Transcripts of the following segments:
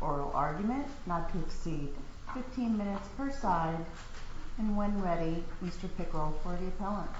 Oral argument not to exceed 15 minutes per side and when ready Mr. Pickrell for the appellant.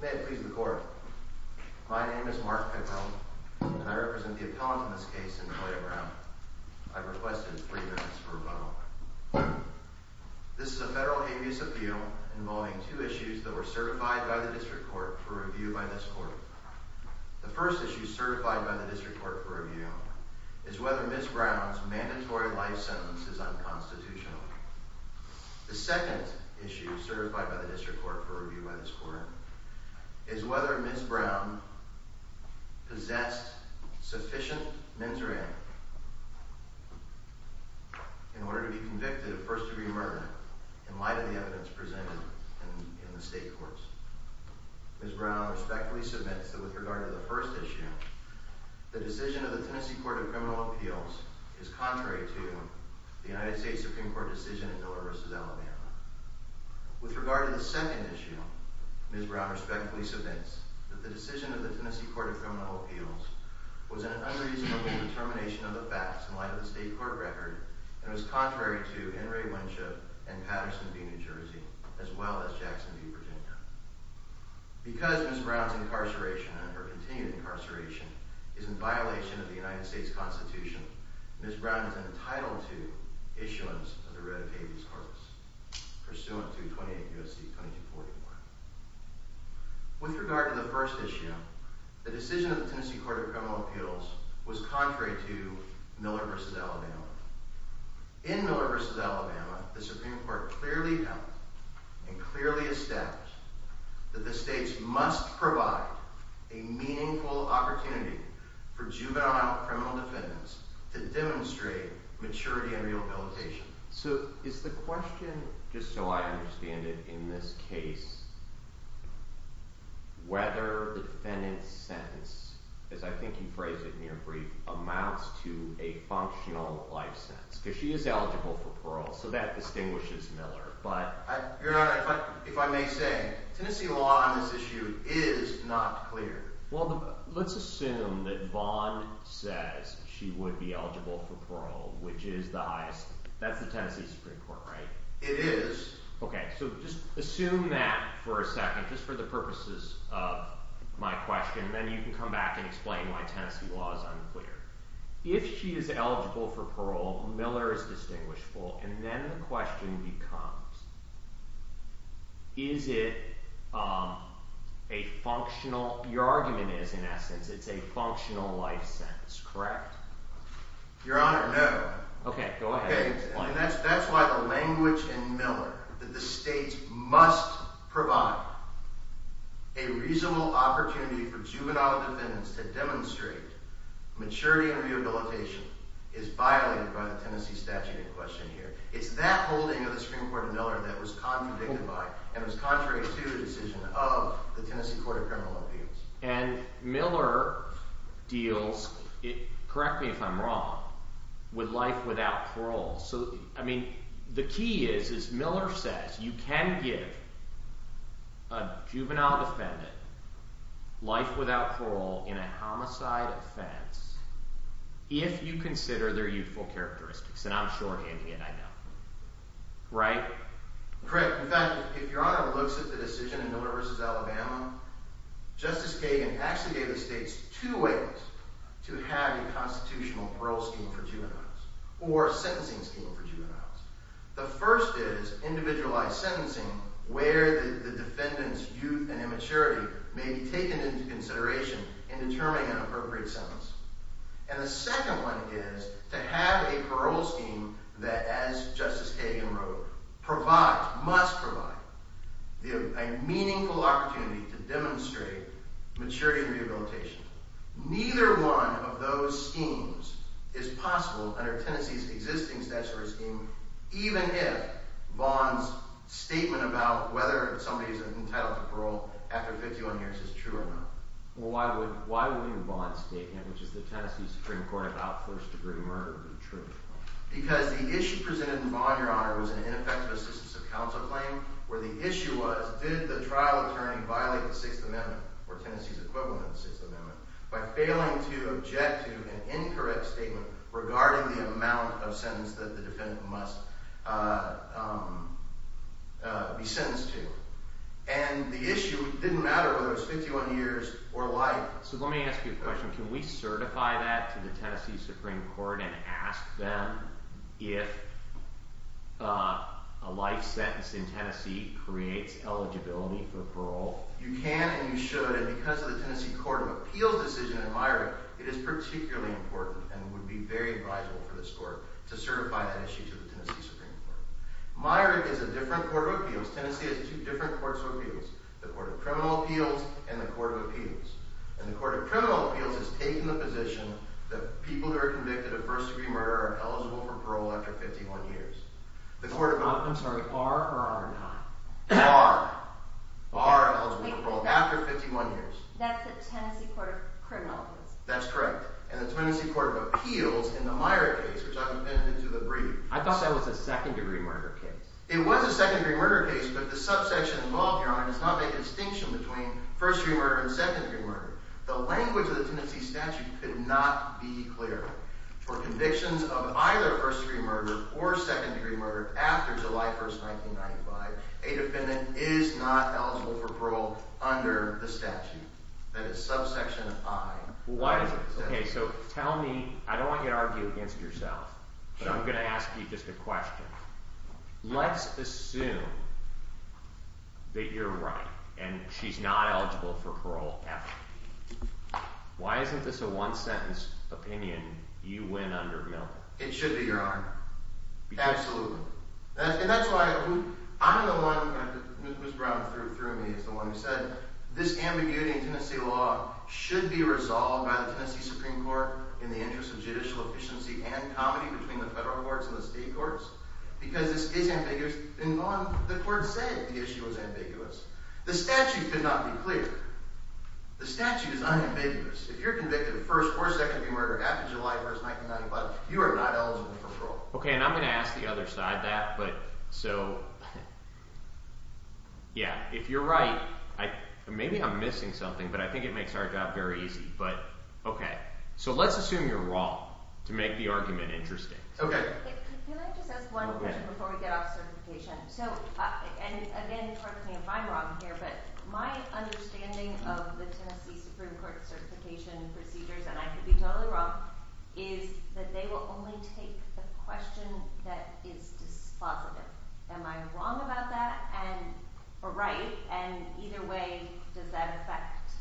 May it please the court. My name is Mark Pickrell and I represent the appellant in this case in Cantoia Brown. I've requested three minutes for rebuttal. This is a federal habeas appeal involving two issues that were certified by the district court for review by this court. The first issue certified by the district court for review is whether Ms. Brown's mandatory life sentence is unconstitutional. The second issue certified by the district court for review by this court is whether Ms. Brown possessed sufficient mens rea in order to be convicted of first degree murder in light of the evidence presented in the state courts. Ms. Brown respectfully submits that with regard to the first issue, the decision of the Tennessee Court of Criminal Appeals is contrary to the United States Supreme Court decision in Miller v. Alabama. With regard to the second issue, Ms. Brown respectfully submits that the decision of the Tennessee Court of Criminal Appeals was an unreasonable determination of the facts in light of the state court record and was contrary to Henry Winship and Patterson v. New Jersey as well as Jackson v. Virginia. Because Ms. Brown's continued incarceration is in violation of the United States Constitution, Ms. Brown is entitled to issuance of the writ of habeas corpus pursuant to 28 U.S.C. 2240. With regard to the first issue, the decision of the Tennessee Court of Criminal Appeals was contrary to Miller v. Alabama. In Miller v. Alabama, the Supreme Court clearly held and clearly established that the states must provide a meaningful opportunity for juvenile criminal defendants to demonstrate maturity and rehabilitation. So is the question, just so I understand it, in this case, whether the defendant's sentence, as I think you phrased it in your brief, amounts to a functional life sentence? Because she is eligible for parole, so that distinguishes Miller. Your Honor, if I may say, Tennessee law on this issue is not clear. Well, let's assume that Vaughn says she would be eligible for parole, which is the highest. That's the Tennessee Supreme Court, right? It is. Okay, so just assume that for a second, just for the purposes of my question, and then you can come back and explain why Tennessee law is unclear. If she is eligible for parole, Miller is distinguishable, and then the question becomes, is it a functional – your argument is, in essence, it's a functional life sentence, correct? Your Honor, no. Okay, go ahead. Okay, and that's why the language in Miller that the states must provide a reasonable opportunity for juvenile defendants to demonstrate maturity and rehabilitation is violated by the Tennessee statute in question here. It's that holding of the Supreme Court in Miller that was contradicted by and was contrary to the decision of the Tennessee Court of Criminal Appeals. And Miller deals – correct me if I'm wrong – with life without parole. So, I mean, the key is, is Miller says you can give a juvenile defendant life without parole in a homicide offense if you consider their youthful characteristics, and I'm shorthanding it, I know. Right? Correct. In fact, if Your Honor looks at the decision in Miller v. Alabama, Justice Kagan actually gave the states two ways to have a constitutional parole scheme for juveniles or a sentencing scheme for juveniles. The first is individualized sentencing where the defendant's youth and immaturity may be taken into consideration in determining an appropriate sentence. And the second one is to have a parole scheme that, as Justice Kagan wrote, provides – must provide – a meaningful opportunity to demonstrate maturity and rehabilitation. Neither one of those schemes is possible under Tennessee's existing statutory scheme, even if Vaughn's statement about whether somebody's entitled to parole after 51 years is true or not. Well, why would – why would Vaughn's statement, which is the Tennessee Supreme Court, about first-degree murder be true? Because the issue presented in Vaughn, Your Honor, was an ineffective assistance of counsel claim where the issue was did the trial attorney violate the Sixth Amendment or Tennessee's equivalent of the Sixth Amendment by failing to object to an incorrect statement regarding the amount of sentence that the defendant must be sentenced to. And the issue didn't matter whether it was 51 years or life. So let me ask you a question. Can we certify that to the Tennessee Supreme Court and ask them if a life sentence in Tennessee creates eligibility for parole? You can and you should, and because of the Tennessee Court of Appeals decision in Myrick, it is particularly important and would be very advisable for this Court to certify that issue to the Tennessee Supreme Court. Myrick is a different Court of Appeals. Tennessee has two different Courts of Appeals, the Court of Criminal Appeals and the Court of Appeals. And the Court of Criminal Appeals has taken the position that people who are convicted of first-degree murder are eligible for parole after 51 years. I'm sorry. Are or are not? Are. Are eligible for parole after 51 years. That's the Tennessee Court of Criminal Appeals. That's correct. And the Tennessee Court of Appeals in the Myrick case, which I will pen it into the brief. I thought that was a second-degree murder case. It was a second-degree murder case, but the subsection involved, Your Honor, does not make a distinction between first-degree murder and second-degree murder. The language of the Tennessee statute could not be clearer. For convictions of either first-degree murder or second-degree murder after July 1, 1995, a defendant is not eligible for parole under the statute. That is subsection I. Why is it? Okay, so tell me. I don't want you to argue against yourself, but I'm going to ask you just a question. Let's assume that you're right and she's not eligible for parole after. Why isn't this a one-sentence opinion you win under, Milton? It should be, Your Honor. Absolutely. And that's why I'm the one – Ms. Brown threw me as the one who said this ambiguity in Tennessee law should be resolved by the Tennessee Supreme Court in the interest of judicial efficiency and comedy between the federal courts and the state courts because this is ambiguous. The court said the issue was ambiguous. The statute could not be clearer. The statute is unambiguous. If you're convicted of first or second-degree murder after July 1, 1995, you are not eligible for parole. Okay, and I'm going to ask the other side that, but so – yeah, if you're right – maybe I'm missing something, but I think it makes our job very easy, but okay. So let's assume you're wrong to make the argument interesting. Okay. Can I just ask one question before we get off certification? So – and again, correct me if I'm wrong here, but my understanding of the Tennessee Supreme Court certification procedures, and I could be totally wrong, is that they will only take the question that is dispositive. Am I wrong about that and – or right? And either way, does that affect –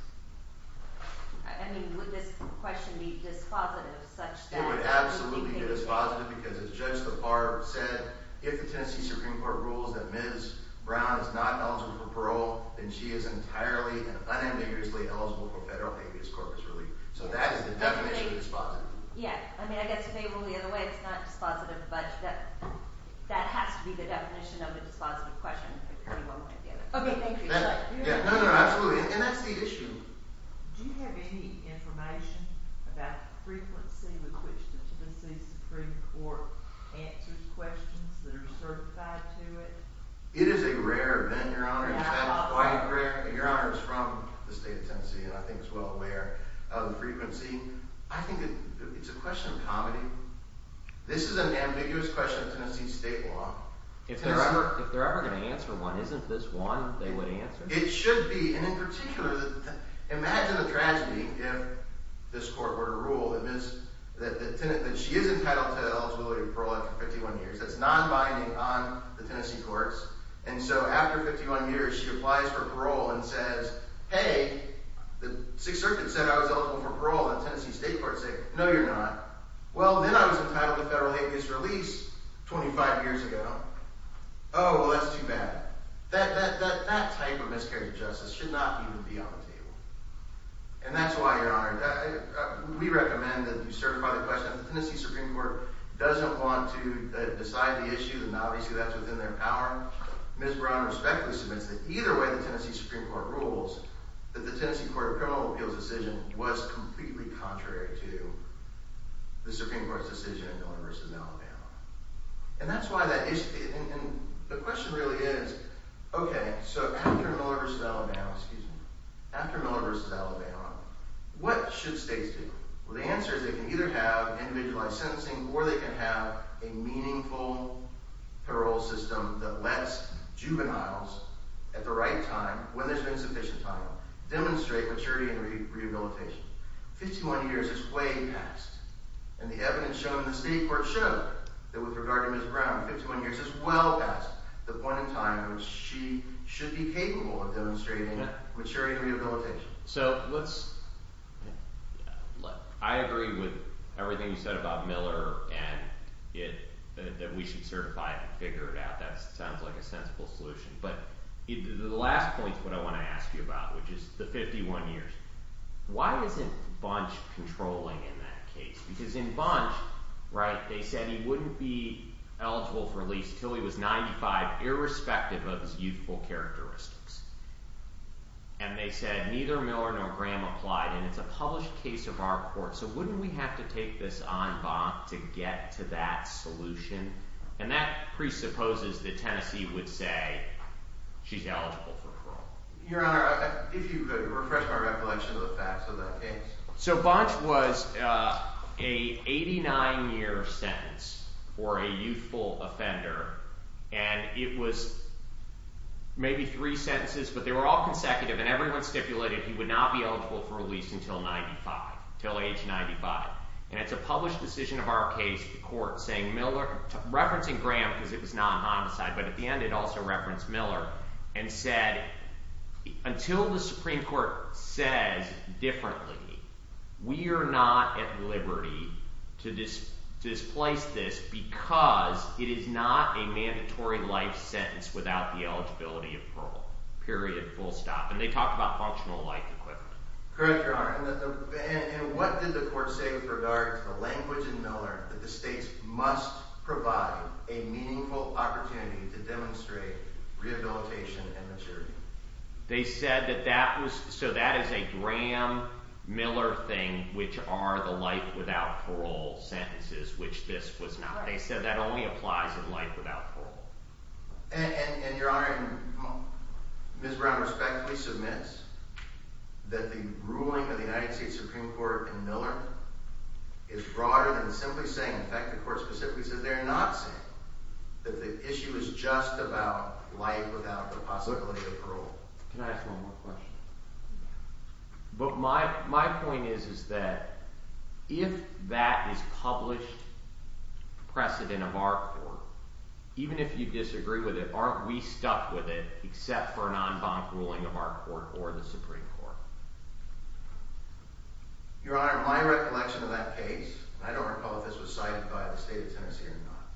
I mean, would this question be dispositive such that – I think it would absolutely be dispositive because, as Judge Lafarge said, if the Tennessee Supreme Court rules that Ms. Brown is not eligible for parole, then she is entirely and unambiguously eligible for federal habeas corpus relief. So that is the definition of dispositive. Yeah. I mean, I guess if they rule the other way, it's not dispositive, but that has to be the definition of a dispositive question. Okay, thank you. And that's the issue. Do you have any information about the frequency with which the Tennessee Supreme Court answers questions that are certified to it? It is a rare event, Your Honor. Is that quite rare? Your Honor is from the state of Tennessee and I think is well aware of the frequency. I think it's a question of comedy. This is an ambiguous question of Tennessee state law. If they're ever going to answer one, isn't this one they would answer? It should be. And in particular, imagine a tragedy if this court were to rule that she is entitled to eligibility for parole after 51 years. That's non-binding on the Tennessee courts. And so after 51 years, she applies for parole and says, hey, the Sixth Circuit said I was eligible for parole. The Tennessee state courts say, no, you're not. Well, then I was entitled to federal habeas release 25 years ago. Oh, well, that's too bad. That type of miscarriage of justice should not even be on the table. And that's why, Your Honor, we recommend that you certify the question. If the Tennessee Supreme Court doesn't want to decide the issue, and obviously that's within their power, Ms. Brown respectfully submits that either way the Tennessee Supreme Court rules, that the Tennessee Court of Criminal Appeals decision was completely contrary to the Supreme Court's decision in Miller v. Alabama. And that's why that issue – and the question really is, okay, so after Miller v. Alabama, excuse me, after Miller v. Alabama, what should states do? Well, the answer is they can either have individualized sentencing or they can have a meaningful parole system that lets juveniles at the right time, when there's been sufficient time, demonstrate maturity and rehabilitation. Fifty-one years is way past, and the evidence shown in the state court showed that with regard to Ms. Brown, fifty-one years is well past the point in time in which she should be capable of demonstrating maturity and rehabilitation. So let's – I agree with everything you said about Miller and that we should certify it and figure it out. That sounds like a sensible solution. But the last point is what I want to ask you about, which is the fifty-one years. Why isn't Bunch controlling in that case? Because in Bunch, right, they said he wouldn't be eligible for release until he was 95, irrespective of his youthful characteristics. And they said neither Miller nor Graham applied, and it's a published case of our court, so wouldn't we have to take this en banc to get to that solution? And that presupposes that Tennessee would say she's eligible for parole. Your Honor, if you could refresh my recollection of the facts of that case. So Bunch was a 89-year sentence for a youthful offender, and it was maybe three sentences, but they were all consecutive, and everyone stipulated he would not be eligible for release until 95, until age 95. And it's a published decision of our case, the court, referencing Graham because it was not homicide, but at the end it also referenced Miller and said until the Supreme Court says differently, we are not at liberty to displace this because it is not a mandatory life sentence without the eligibility of parole, period, full stop. And they talked about functional life equipment. Correct, Your Honor, and what did the court say with regard to the language in Miller that the states must provide a meaningful opportunity to demonstrate rehabilitation and maturity? They said that that was, so that is a Graham-Miller thing, which are the life without parole sentences, which this was not. They said that only applies in life without parole. And, Your Honor, Ms. Brown respectfully submits that the ruling of the United States Supreme Court in Miller is broader than simply saying, in fact, the court specifically says they're not saying that the issue is just about life without the possibility of parole. Can I ask one more question? But my point is that if that is published precedent of our court, even if you disagree with it, aren't we stuck with it except for a non-bonk ruling of our court or the Supreme Court? Your Honor, my recollection of that case, and I don't recall if this was cited by the State of Tennessee or not,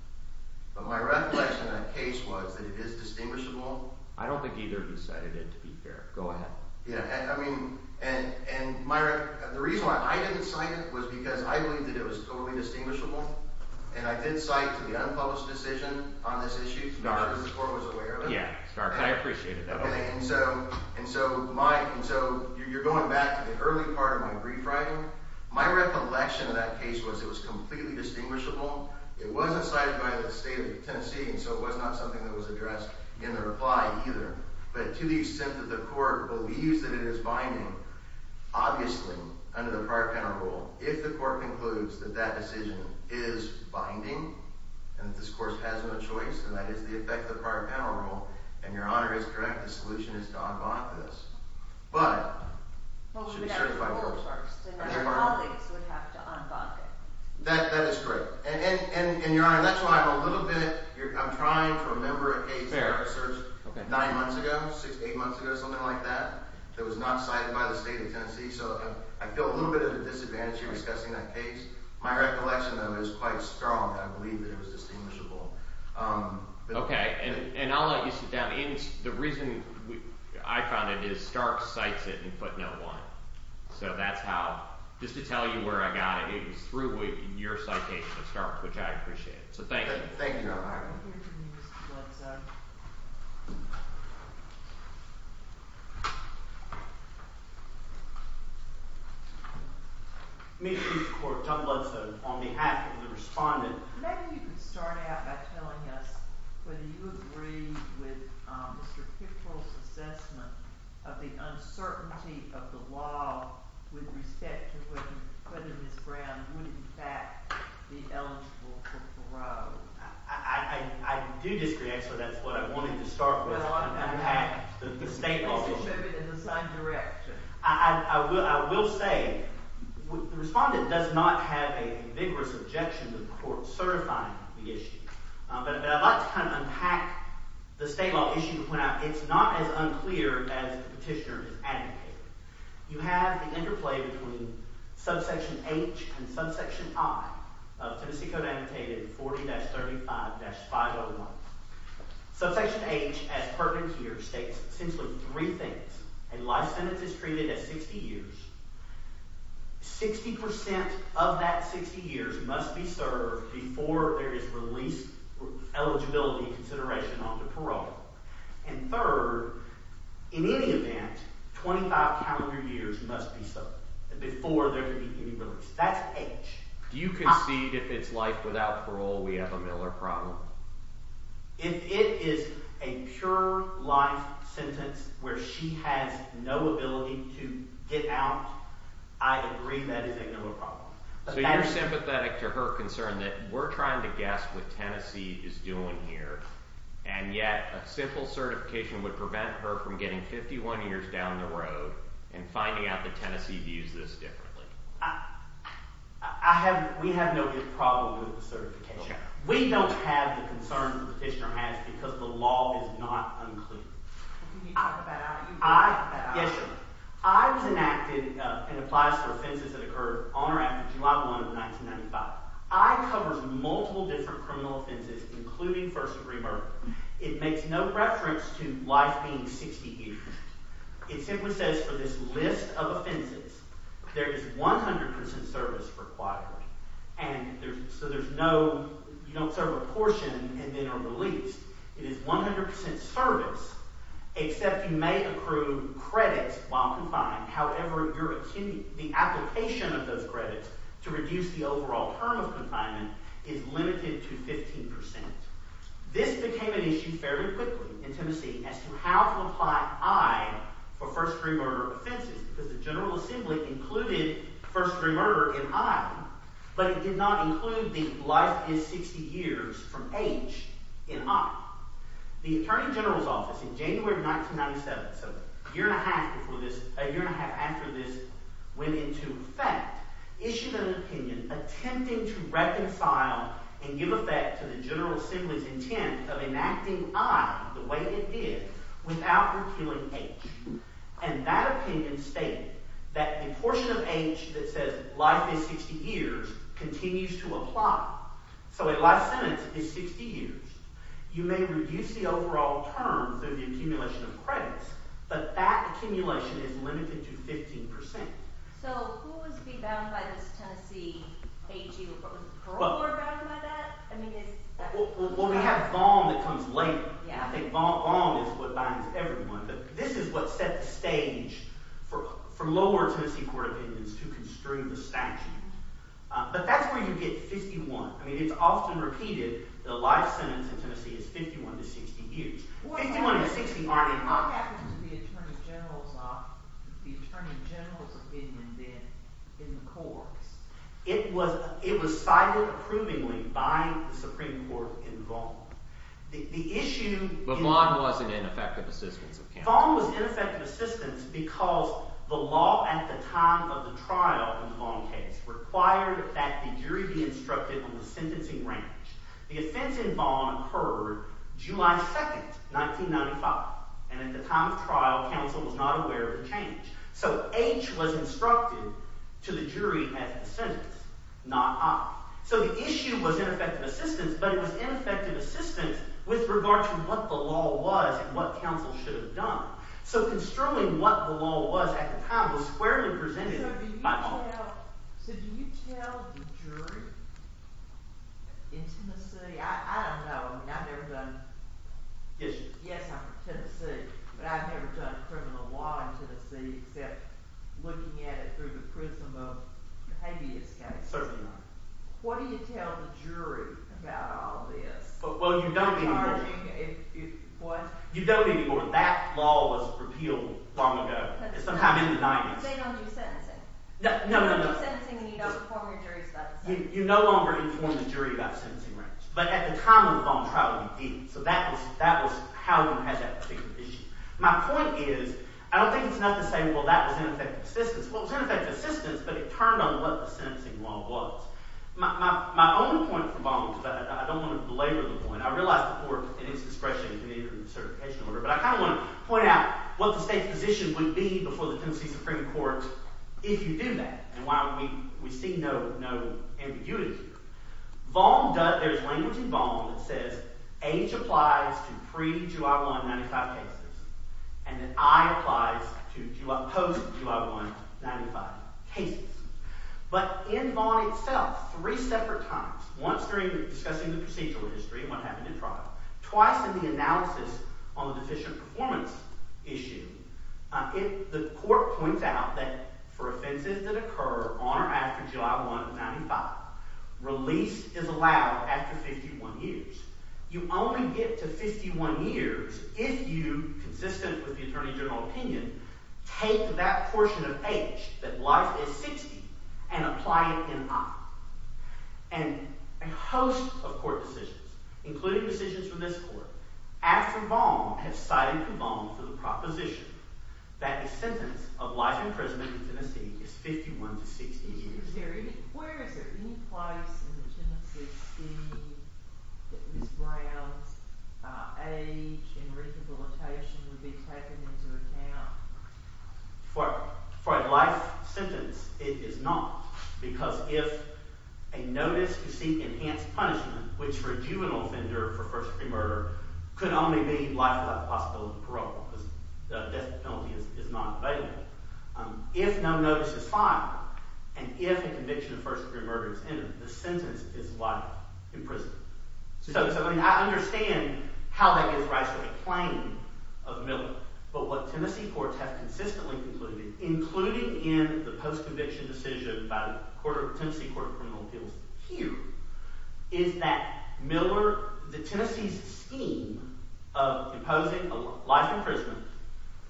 but my recollection of that case was that it is distinguishable. I don't think either of you cited it, to be fair. Go ahead. Yeah, I mean, and the reason why I didn't cite it was because I believed that it was totally distinguishable, and I did cite the unpublished decision on this issue. Stark. The Supreme Court was aware of it. Yeah, Stark. I appreciated that. Okay, and so you're going back to the early part of my brief writing. My recollection of that case was it was completely distinguishable. It wasn't cited by the State of Tennessee, and so it was not something that was addressed in the reply either. But to the extent that the court believes that it is binding, obviously, under the prior panel rule, if the court concludes that that decision is binding and that this court has no choice, and that is the effect of the prior panel rule, and Your Honor is correct, the solution is to unbonk this. But— Well, we would have to vote first, and then our colleagues would have to unbonk it. That is correct. And, Your Honor, that's why I'm a little bit—I'm trying to remember a case that I researched nine months ago, six, eight months ago, something like that, that was not cited by the State of Tennessee, so I feel a little bit of a disadvantage here discussing that case. My recollection, though, is quite strong. I believe that it was distinguishable. Okay, and I'll let you sit down. The reason I found it is Stark cites it in footnote one, so that's how—just to tell you where I got it. It was through your citation of Stark, which I appreciate. So thank you. Thank you, Your Honor. All right, we'll hear from you, Mr. Bledsoe. Mr. Chief Court, Tom Bledsoe, on behalf of the respondent— Maybe you could start out by telling us whether you agree with Mr. Pickrell's assessment of the uncertainty of the law with respect to whether Ms. Brown would, in fact, be eligible for parole. I do disagree, actually. That's what I wanted to start with, unpack the state law. Why don't you show it in the same direction? I will say the respondent does not have a vigorous objection to the court certifying the issue, but I'd like to kind of unpack the state law issue to point out it's not as unclear as the petitioner has advocated. You have the interplay between subsection H and subsection I of Tennessee Code Annotated 40-35-501. Subsection H, as pertinent here, states essentially three things. A life sentence is treated as 60 years. Sixty percent of that 60 years must be served before there is released eligibility consideration onto parole. And third, in any event, 25 calendar years must be served before there can be any release. That's H. Do you concede if it's life without parole we have a Miller problem? If it is a pure life sentence where she has no ability to get out, I agree that is a Miller problem. So you're sympathetic to her concern that we're trying to guess what Tennessee is doing here, and yet a simple certification would prevent her from getting 51 years down the road and finding out that Tennessee views this differently. We have no big problem with the certification. We don't have the concern the petitioner has because the law is not unclear. Can you talk about it? Yes, sir. I was enacted and applies to offenses that occurred on or after July 1 of 1995. I covers multiple different criminal offenses, including first-degree murder. It makes no reference to life being 60 years. It simply says for this list of offenses, there is 100% service required. And so there's no – you don't serve a portion and then are released. It is 100% service, except you may accrue credits while confined. However, the application of those credits to reduce the overall term of confinement is limited to 15%. This became an issue fairly quickly in Tennessee as to how to apply I for first-degree murder offenses because the General Assembly included first-degree murder in I. But it did not include the life is 60 years from H in I. The Attorney General's Office in January of 1997, so a year and a half after this went into effect, issued an opinion attempting to reconcile and give effect to the General Assembly's intent of enacting I the way it did without repealing H. And that opinion stated that the portion of H that says life is 60 years continues to apply. So a life sentence is 60 years. You may reduce the overall term through the accumulation of credits, but that accumulation is limited to 15%. So who was being bound by this Tennessee H? Was the parole board bound by that? Well, we have Vaughan that comes later. I think Vaughan is what binds everyone. This is what set the stage for lower Tennessee court opinions to construe the statute. But that's where you get 51. I mean it's often repeated that a life sentence in Tennessee is 51 to 60 years. 51 to 60 aren't in law. What happened to the Attorney General's opinion then in the courts? It was cited approvingly by the Supreme Court in Vaughan. But Vaughan wasn't in effective assistance of counsel. Vaughan was in effective assistance because the law at the time of the trial in the Vaughan case required that the jury be instructed on the sentencing range. The offense in Vaughan occurred July 2, 1995. And at the time of trial, counsel was not aware of the change. So H was instructed to the jury as the sentence, not I. So the issue was in effective assistance, but it was in effective assistance with regard to what the law was and what counsel should have done. So construing what the law was at the time was squarely presented by Vaughan. So do you tell the jury in Tennessee – I don't know. I mean I've never done – Yes, you have. Yes, I'm from Tennessee. But I've never done criminal law in Tennessee except looking at it through the prism of the habeas case. What do you tell the jury about all this? Well, you don't anymore. What? You don't anymore. That law was repealed long ago. It's somehow in the 90s. They don't do sentencing. No, no, no. They don't do sentencing and you don't inform your jury about the sentencing range. You no longer inform the jury about the sentencing range. But at the time of the Vaughan trial, you did. So that was how Vaughan had that particular issue. My point is I don't think it's enough to say, well, that was in effective assistance. But it turned on what the sentencing law was. My own point for Vaughan was – but I don't want to belabor the point. I realize the court, in its discretion, committed a recertification order. But I kind of want to point out what the state's position would be before the Tennessee Supreme Court if you did that. And why we see no ambiguity here. Vaughan does – there's language in Vaughan that says age applies to pre-July 1, 1995 cases and that I applies to post-July 1, 1995 cases. But in Vaughan itself, three separate times, once during discussing the procedural history and what happened in trial, twice in the analysis on the deficient performance issue, the court points out that for offenses that occur on or after July 1, 1995, release is allowed after 51 years. You only get to 51 years if you, consistent with the attorney general opinion, take that portion of age that life is 60 and apply it in I. And a host of court decisions, including decisions from this court, after Vaughan, have cited Vaughan for the proposition that a sentence of life imprisonment in Tennessee is 51 to 60 years. Where is there any place in the Tennessee scheme that Ms. Brown's age and rehabilitation would be taken into account? For a life sentence, it is not because if a notice to seek enhanced punishment, which for a juvenile offender for first-degree murder could only be life without the possibility of parole because death penalty is not available. If no notice is filed and if a conviction of first-degree murder is entered, the sentence is life in prison. So I mean I understand how that gives rise to a claim of Miller, but what Tennessee courts have consistently concluded, including in the post-conviction decision by the Tennessee Court of Criminal Appeals here, is that Miller – the Tennessee's scheme of imposing a life imprisonment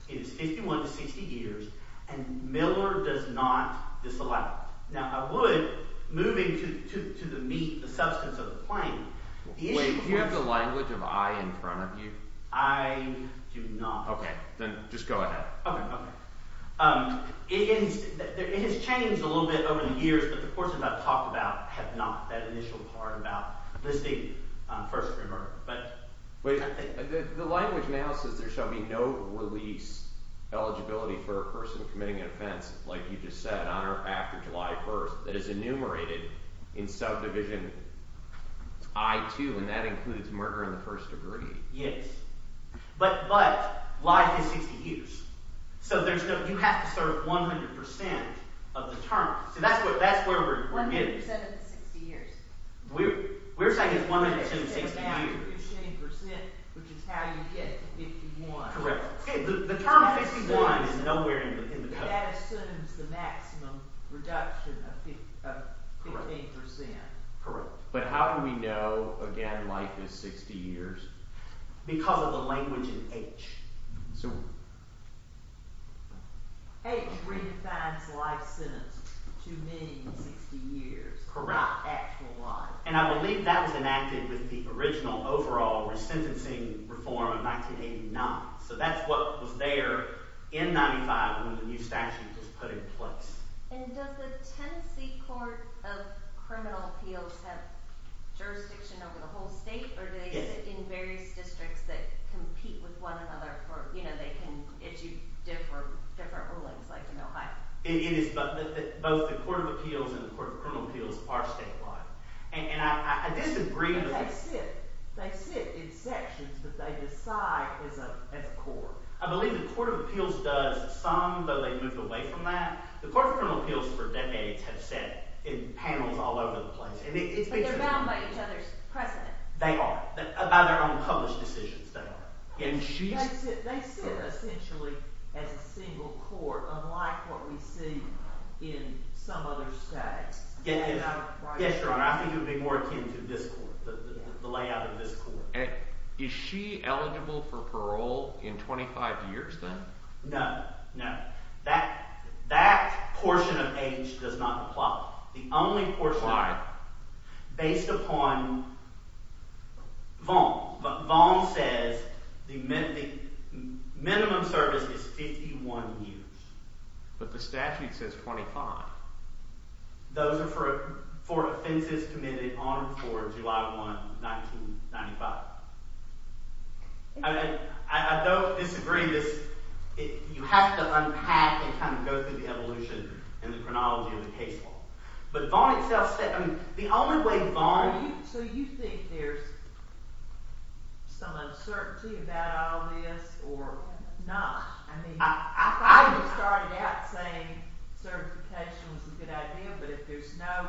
is 51 to 60 years, and Miller does not disallow it. Now, I would – moving to the meat, the substance of the claim – the issue of course – Wait. Do you have the language of I in front of you? I do not. Okay. Then just go ahead. Okay, okay. It has changed a little bit over the years, but the portions I've talked about have not, that initial part about listing first-degree murder. The language now says there shall be no release eligibility for a person committing an offense, like you just said, on or after July 1st that is enumerated in subdivision I-2, and that includes murder in the first degree. Yes, but life is 60 years, so there's no – you have to serve 100% of the term. So that's what – that's where we're getting. 100% of the 60 years. We're saying it's 100% of the 60 years. We're saying it's after 15%, which is how you get to 51. Correct. The term 51 is nowhere in the code. That assumes the maximum reduction of 15%. Correct. But how do we know, again, life is 60 years? Because of the language in H. H redefines life sentence to meaning 60 years. Correct. Not actual life. And I believe that was enacted with the original overall resentencing reform of 1989, so that's what was there in 95 when the new statute was put in place. And does the Tennessee Court of Criminal Appeals have jurisdiction over the whole state? Yes. Or do they sit in various districts that compete with one another for – they can issue different rulings, like in Ohio? It is – both the Court of Appeals and the Court of Criminal Appeals are statewide. And I disagree – But they sit. They sit in sections, but they decide as a court. I believe the Court of Appeals does some, but they've moved away from that. The Court of Criminal Appeals for decades has sat in panels all over the place. But they're bound by each other's precedent. They are. By their own published decisions, they are. They sit essentially as a single court, unlike what we see in some other states. Yes, Your Honor, I think it would be more akin to this court, the layout of this court. Is she eligible for parole in 25 years then? No, no. That portion of age does not apply. Why? Based upon Vaughan. Vaughan says the minimum service is 51 years. But the statute says 25. Those are for offenses committed on or before July 1, 1995. I don't disagree this – you have to unpack and kind of go through the evolution and the chronology of the case law. But Vaughan itself – the only way Vaughan – So you think there's some uncertainty about all this or not? I mean, I thought you started out saying certification was a good idea. But if there's no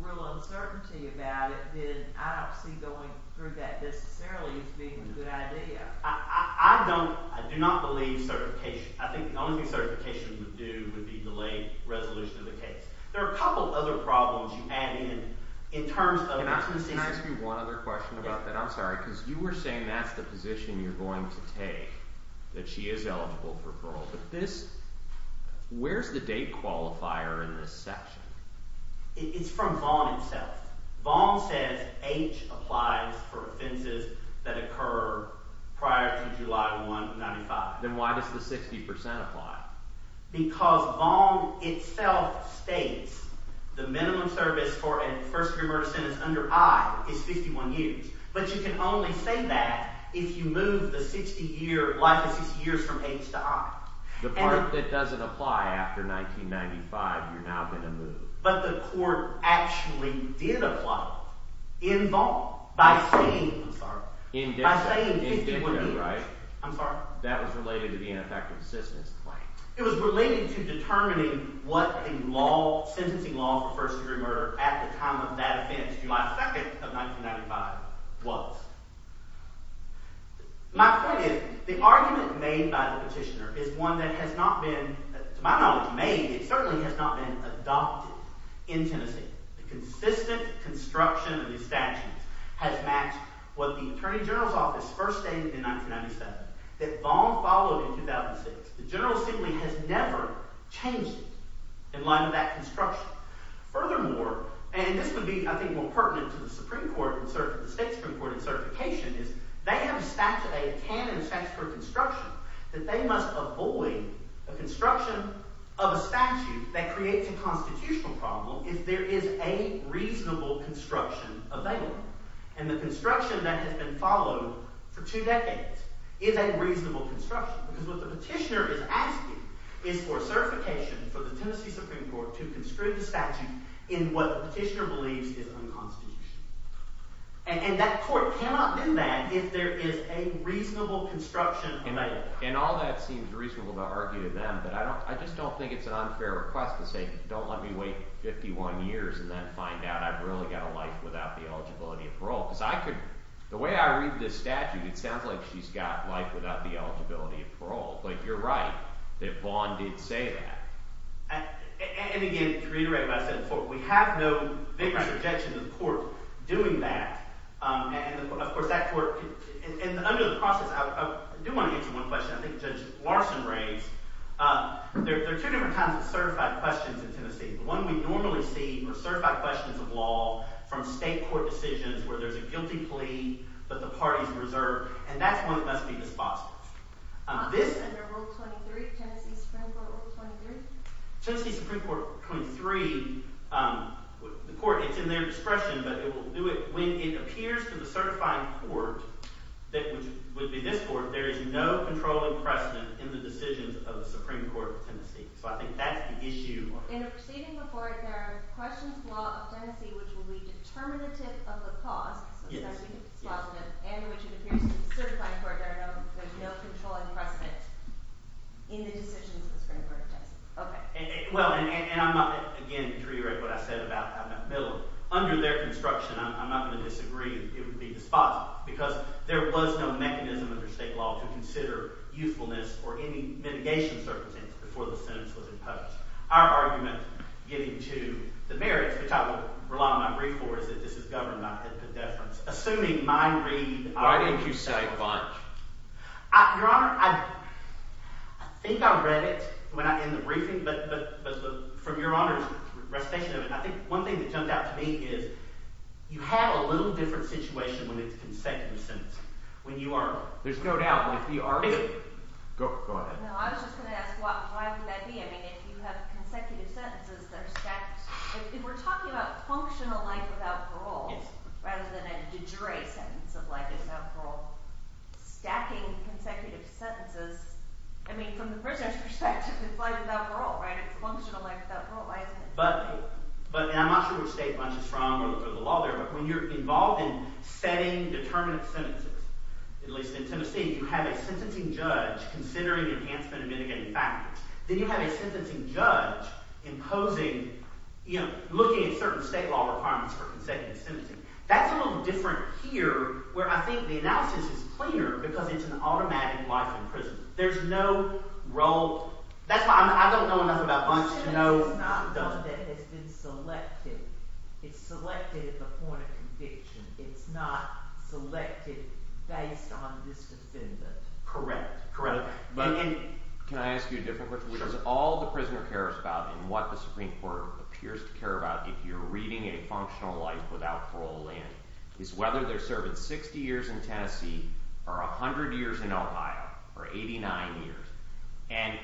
real uncertainty about it, then I don't see going through that necessarily as being a good idea. I don't – I do not believe certification – I think the only thing certification would do would be delay resolution of the case. There are a couple other problems you add in, in terms of – Can I ask you one other question about that? I'm sorry, because you were saying that's the position you're going to take, that she is eligible for parole. But this – where's the date qualifier in this section? It's from Vaughan itself. Vaughan says H applies for offenses that occur prior to July 1, 1995. Then why does the 60% apply? Because Vaughan itself states the minimum service for a first-degree murder sentence under I is 51 years. But you can only say that if you move the 60-year – life of 60 years from H to I. The part that doesn't apply after 1995, you're now going to move. But the court actually did apply in Vaughan by saying – I'm sorry. By saying 51 years. I'm sorry. That was related to the ineffective assistance claim. It was related to determining what the law – sentencing law for first-degree murder at the time of that offense, July 2nd of 1995, was. My point is the argument made by the petitioner is one that has not been, to my knowledge, made. It certainly has not been adopted in Tennessee. The consistent construction of these statutes has matched what the attorney general's office first stated in 1997 that Vaughan followed in 2006. The general assembly has never changed it in light of that construction. Furthermore – and this would be, I think, more pertinent to the Supreme Court and the state Supreme Court in certification is they have a statute. They have a canon statute for construction that they must avoid a construction of a statute that creates a constitutional problem… …if there is a reasonable construction available. And the construction that has been followed for two decades is a reasonable construction because what the petitioner is asking is for certification for the Tennessee Supreme Court to construe the statute in what the petitioner believes is unconstitutional. And that court cannot do that if there is a reasonable construction available. And all that seems reasonable to argue to them, but I just don't think it's an unfair request to say, don't let me wait 51 years and then find out I've really got a life without the eligibility of parole. Because I could – the way I read this statute, it sounds like she's got life without the eligibility of parole. But you're right that Vaughan did say that. And again, to reiterate what I said before, we have no vigorous objection to the court doing that. And, of course, that court – and under the process, I do want to answer one question I think Judge Larson raised. There are two different kinds of certified questions in Tennessee. The one we normally see are certified questions of law from state court decisions where there's a guilty plea that the parties reserve, and that's one that must be dispossessed. This – Under Rule 23, Tennessee Supreme Court Rule 23? Tennessee Supreme Court 23, the court – it's in their discretion, but it will do it when it appears to the certifying court, which would be this court, there is no controlling precedent in the decisions of the Supreme Court of Tennessee. So I think that's the issue. In a proceeding before it, there are questions of law of Tennessee which will be determinative of the cost, so it's got to be dispositive, and which it appears to the certifying court there is no controlling precedent in the decisions of the Supreme Court of Tennessee. Okay. Well, and I'm not – again, to reiterate what I said about – under their construction, I'm not going to disagree. It would be dispositive because there was no mechanism under state law to consider usefulness or any mitigation circumstances before the sentence was imposed. Our argument, getting to the merits, which I will rely on my brief for, is that this is government at the deference. Assuming my read of – Why didn't you say March? Your Honor, I think I read it when I – in the briefing, but from Your Honor's recitation of it, I think one thing that jumped out to me is you have a little different situation when it's consecutive sentences. When you are – There's no doubt. But if you are – Go ahead. No, I was just going to ask why would that be? I mean if you have consecutive sentences that are stacked – if we're talking about functional life without parole rather than a de jure sentence of life without parole, stacking consecutive sentences – I mean from the prisoner's perspective, it's life without parole, right? It's functional life without parole. But – and I'm not sure which state Bunch is from or the law there, but when you're involved in setting determinative sentences, at least in Tennessee, you have a sentencing judge considering enhancement and mitigating factors. Then you have a sentencing judge imposing – looking at certain state law requirements for consecutive sentencing. That's a little different here where I think the analysis is cleaner because it's an automatic life in prison. There's no role – that's why I don't know enough about Bunch to know – It's not one that has been selected. It's selected at the point of conviction. It's not selected based on this defendant. Correct. Correct. Can I ask you a different question? Sure. Because all the prisoner cares about and what the Supreme Court appears to care about if you're reading a functional life without parole land is whether they're serving 60 years in Tennessee or 100 years in Ohio or 89 years. And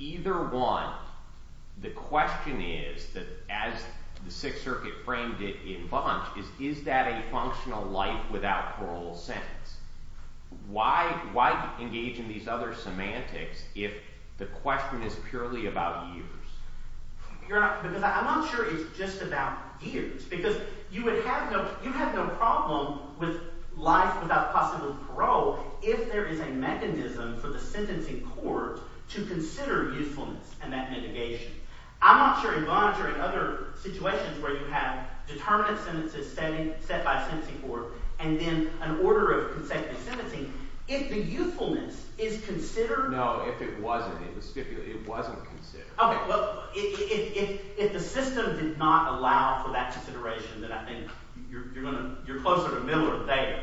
either one, the question is that as the Sixth Circuit framed it in Bunch is, is that a functional life without parole sentence? Why engage in these other semantics if the question is purely about years? Because I'm not sure it's just about years because you would have no – you have no problem with life without possible parole if there is a mechanism for the sentencing court to consider youthfulness and that mitigation. I'm not sure in Bunch or in other situations where you have determinative sentences set by a sentencing court and then an order of consecutive sentencing, if the youthfulness is considered… No, if it wasn't. It was stipulated. It wasn't considered. Okay. Well, if the system did not allow for that consideration, then I think you're closer to middle or theta.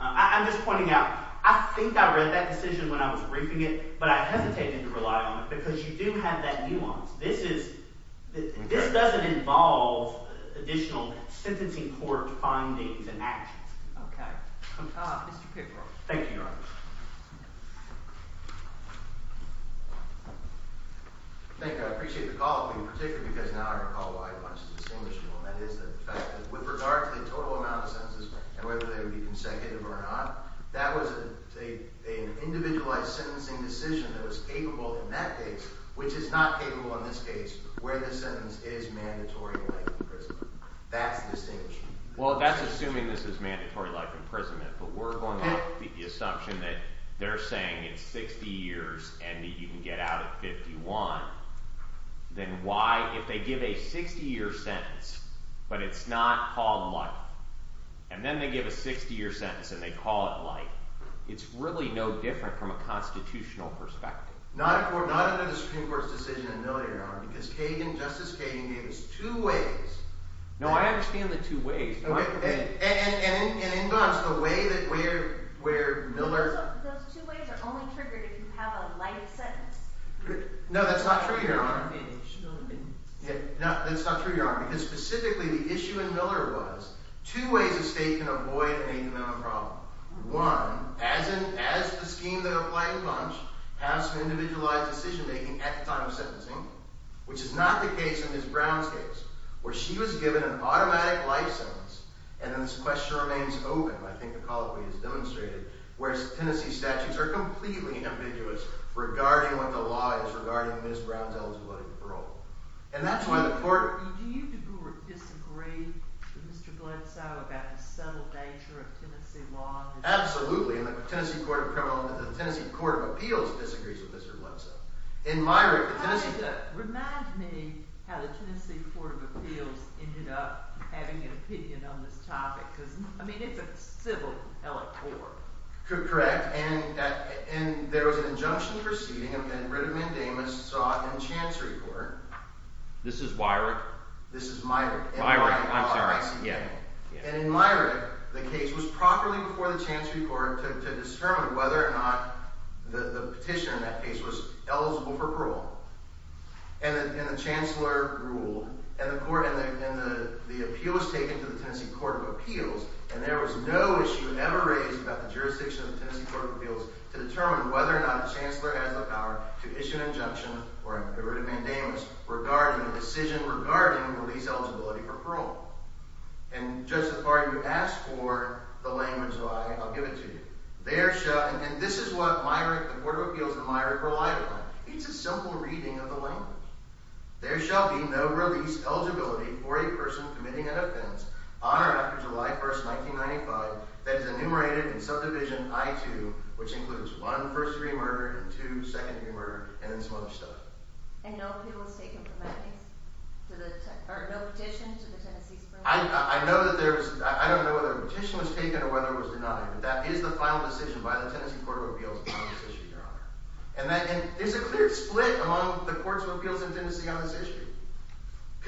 I'm just pointing out I think I read that decision when I was briefing it, but I hesitated to rely on it because you do have that nuance. This is – this doesn't involve additional sentencing court findings and actions. Okay. Mr. Pickford. Thank you, Your Honor. Thank you. I appreciate the call, but in particular because now I recall why Bunch is distinguishable, and that is the fact that with regard to the total amount of sentences and whether they would be consecutive or not, that was an individualized sentencing decision that was capable in that case, which is not capable in this case where the sentence is mandatory life imprisonment. That's distinguishing. Well, that's assuming this is mandatory life imprisonment, but we're going off the assumption that they're saying it's 60 years and that you can get out at 51. Then why – if they give a 60-year sentence, but it's not called life, and then they give a 60-year sentence and they call it life, it's really no different from a constitutional perspective. Not under the Supreme Court's decision in the earlier hour because Justice Kagan gave us two ways. No, I understand the two ways. Okay. And in Bunch, the way that where Miller – So those two ways are only triggered if you have a light sentence. No, that's not true, Your Honor. No, it shouldn't be. No, that's not true, Your Honor, because specifically the issue in Miller was two ways a state can avoid an incremental problem. One, as in – as the scheme that applies in Bunch, has an individualized decision-making at the time of sentencing, which is not the case in Ms. Brown's case where she was given an automatic life sentence and then the sequester remains open, I think the colloquy has demonstrated, whereas Tennessee statutes are completely ambiguous regarding what the law is regarding Ms. Brown's eligibility for parole. Do you disagree with Mr. Gledsoe about the subtle nature of Tennessee law? Absolutely, and the Tennessee Court of Appeals disagrees with Mr. Gledsoe. Remind me how the Tennessee Court of Appeals ended up having an opinion on this topic because, I mean, it's a civil elect court. Correct, and there was an injunction proceeding, and Redmond and Davis saw it in the Chancery Court. This is Weirich? This is Myrick. Myrick, I'm sorry. And in Myrick, the case was properly before the Chancery Court to determine whether or not the petitioner in that case was eligible for parole. And the chancellor ruled, and the appeal was taken to the Tennessee Court of Appeals, and there was no issue ever raised about the jurisdiction of the Tennessee Court of Appeals to determine whether or not a chancellor has the power to issue an injunction or a writ of mandamus regarding a decision regarding the lease eligibility for parole. And just as far as you ask for the language of I, I'll give it to you. And this is what the Court of Appeals and Myrick relied on. It's a simple reading of the language. There shall be no release eligibility for a person committing an offense on or after July 1, 1995 that is enumerated in subdivision I-2, which includes 1 first-degree murder and 2 second-degree murder, and then some other stuff. And no appeal was taken from that case? Or no petition to the Tennessee Supreme Court? I don't know whether a petition was taken or whether it was denied, but that is the final decision by the Tennessee Court of Appeals on this issue, Your Honor. And there's a clear split among the courts of appeals in Tennessee on this issue.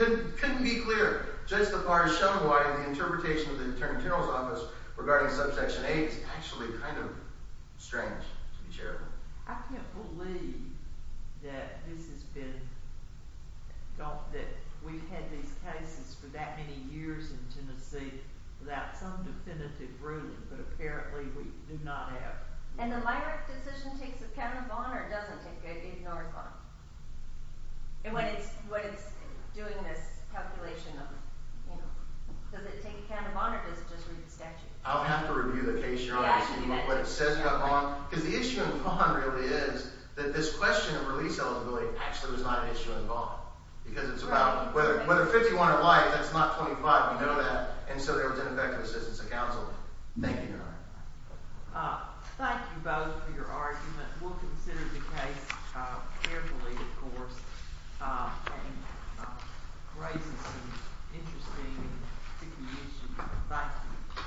It couldn't be clearer. Just as far as Shumway and the interpretation of the Attorney General's Office regarding subsection A is actually kind of strange, to be fair. I can't believe that this has been – that we've had these cases for that many years in Tennessee without some definitive ruling, but apparently we do not have. And the Myrick decision takes account of bond or doesn't take account of bond? And what it's doing this calculation of – does it take account of bond or does it just read the statute? I'll have to review the case, Your Honor, to see what it says about bond. Because the issue in bond really is that this question of release eligibility actually was not an issue in bond because it's about – whether 51 or life, that's not 25. You know that. And so there was ineffective assistance of counsel. Thank you, Your Honor. Thank you both for your argument. We'll consider the case carefully, of course, in raising some interesting and tricky issues. Thank you. Thank you. Thank you.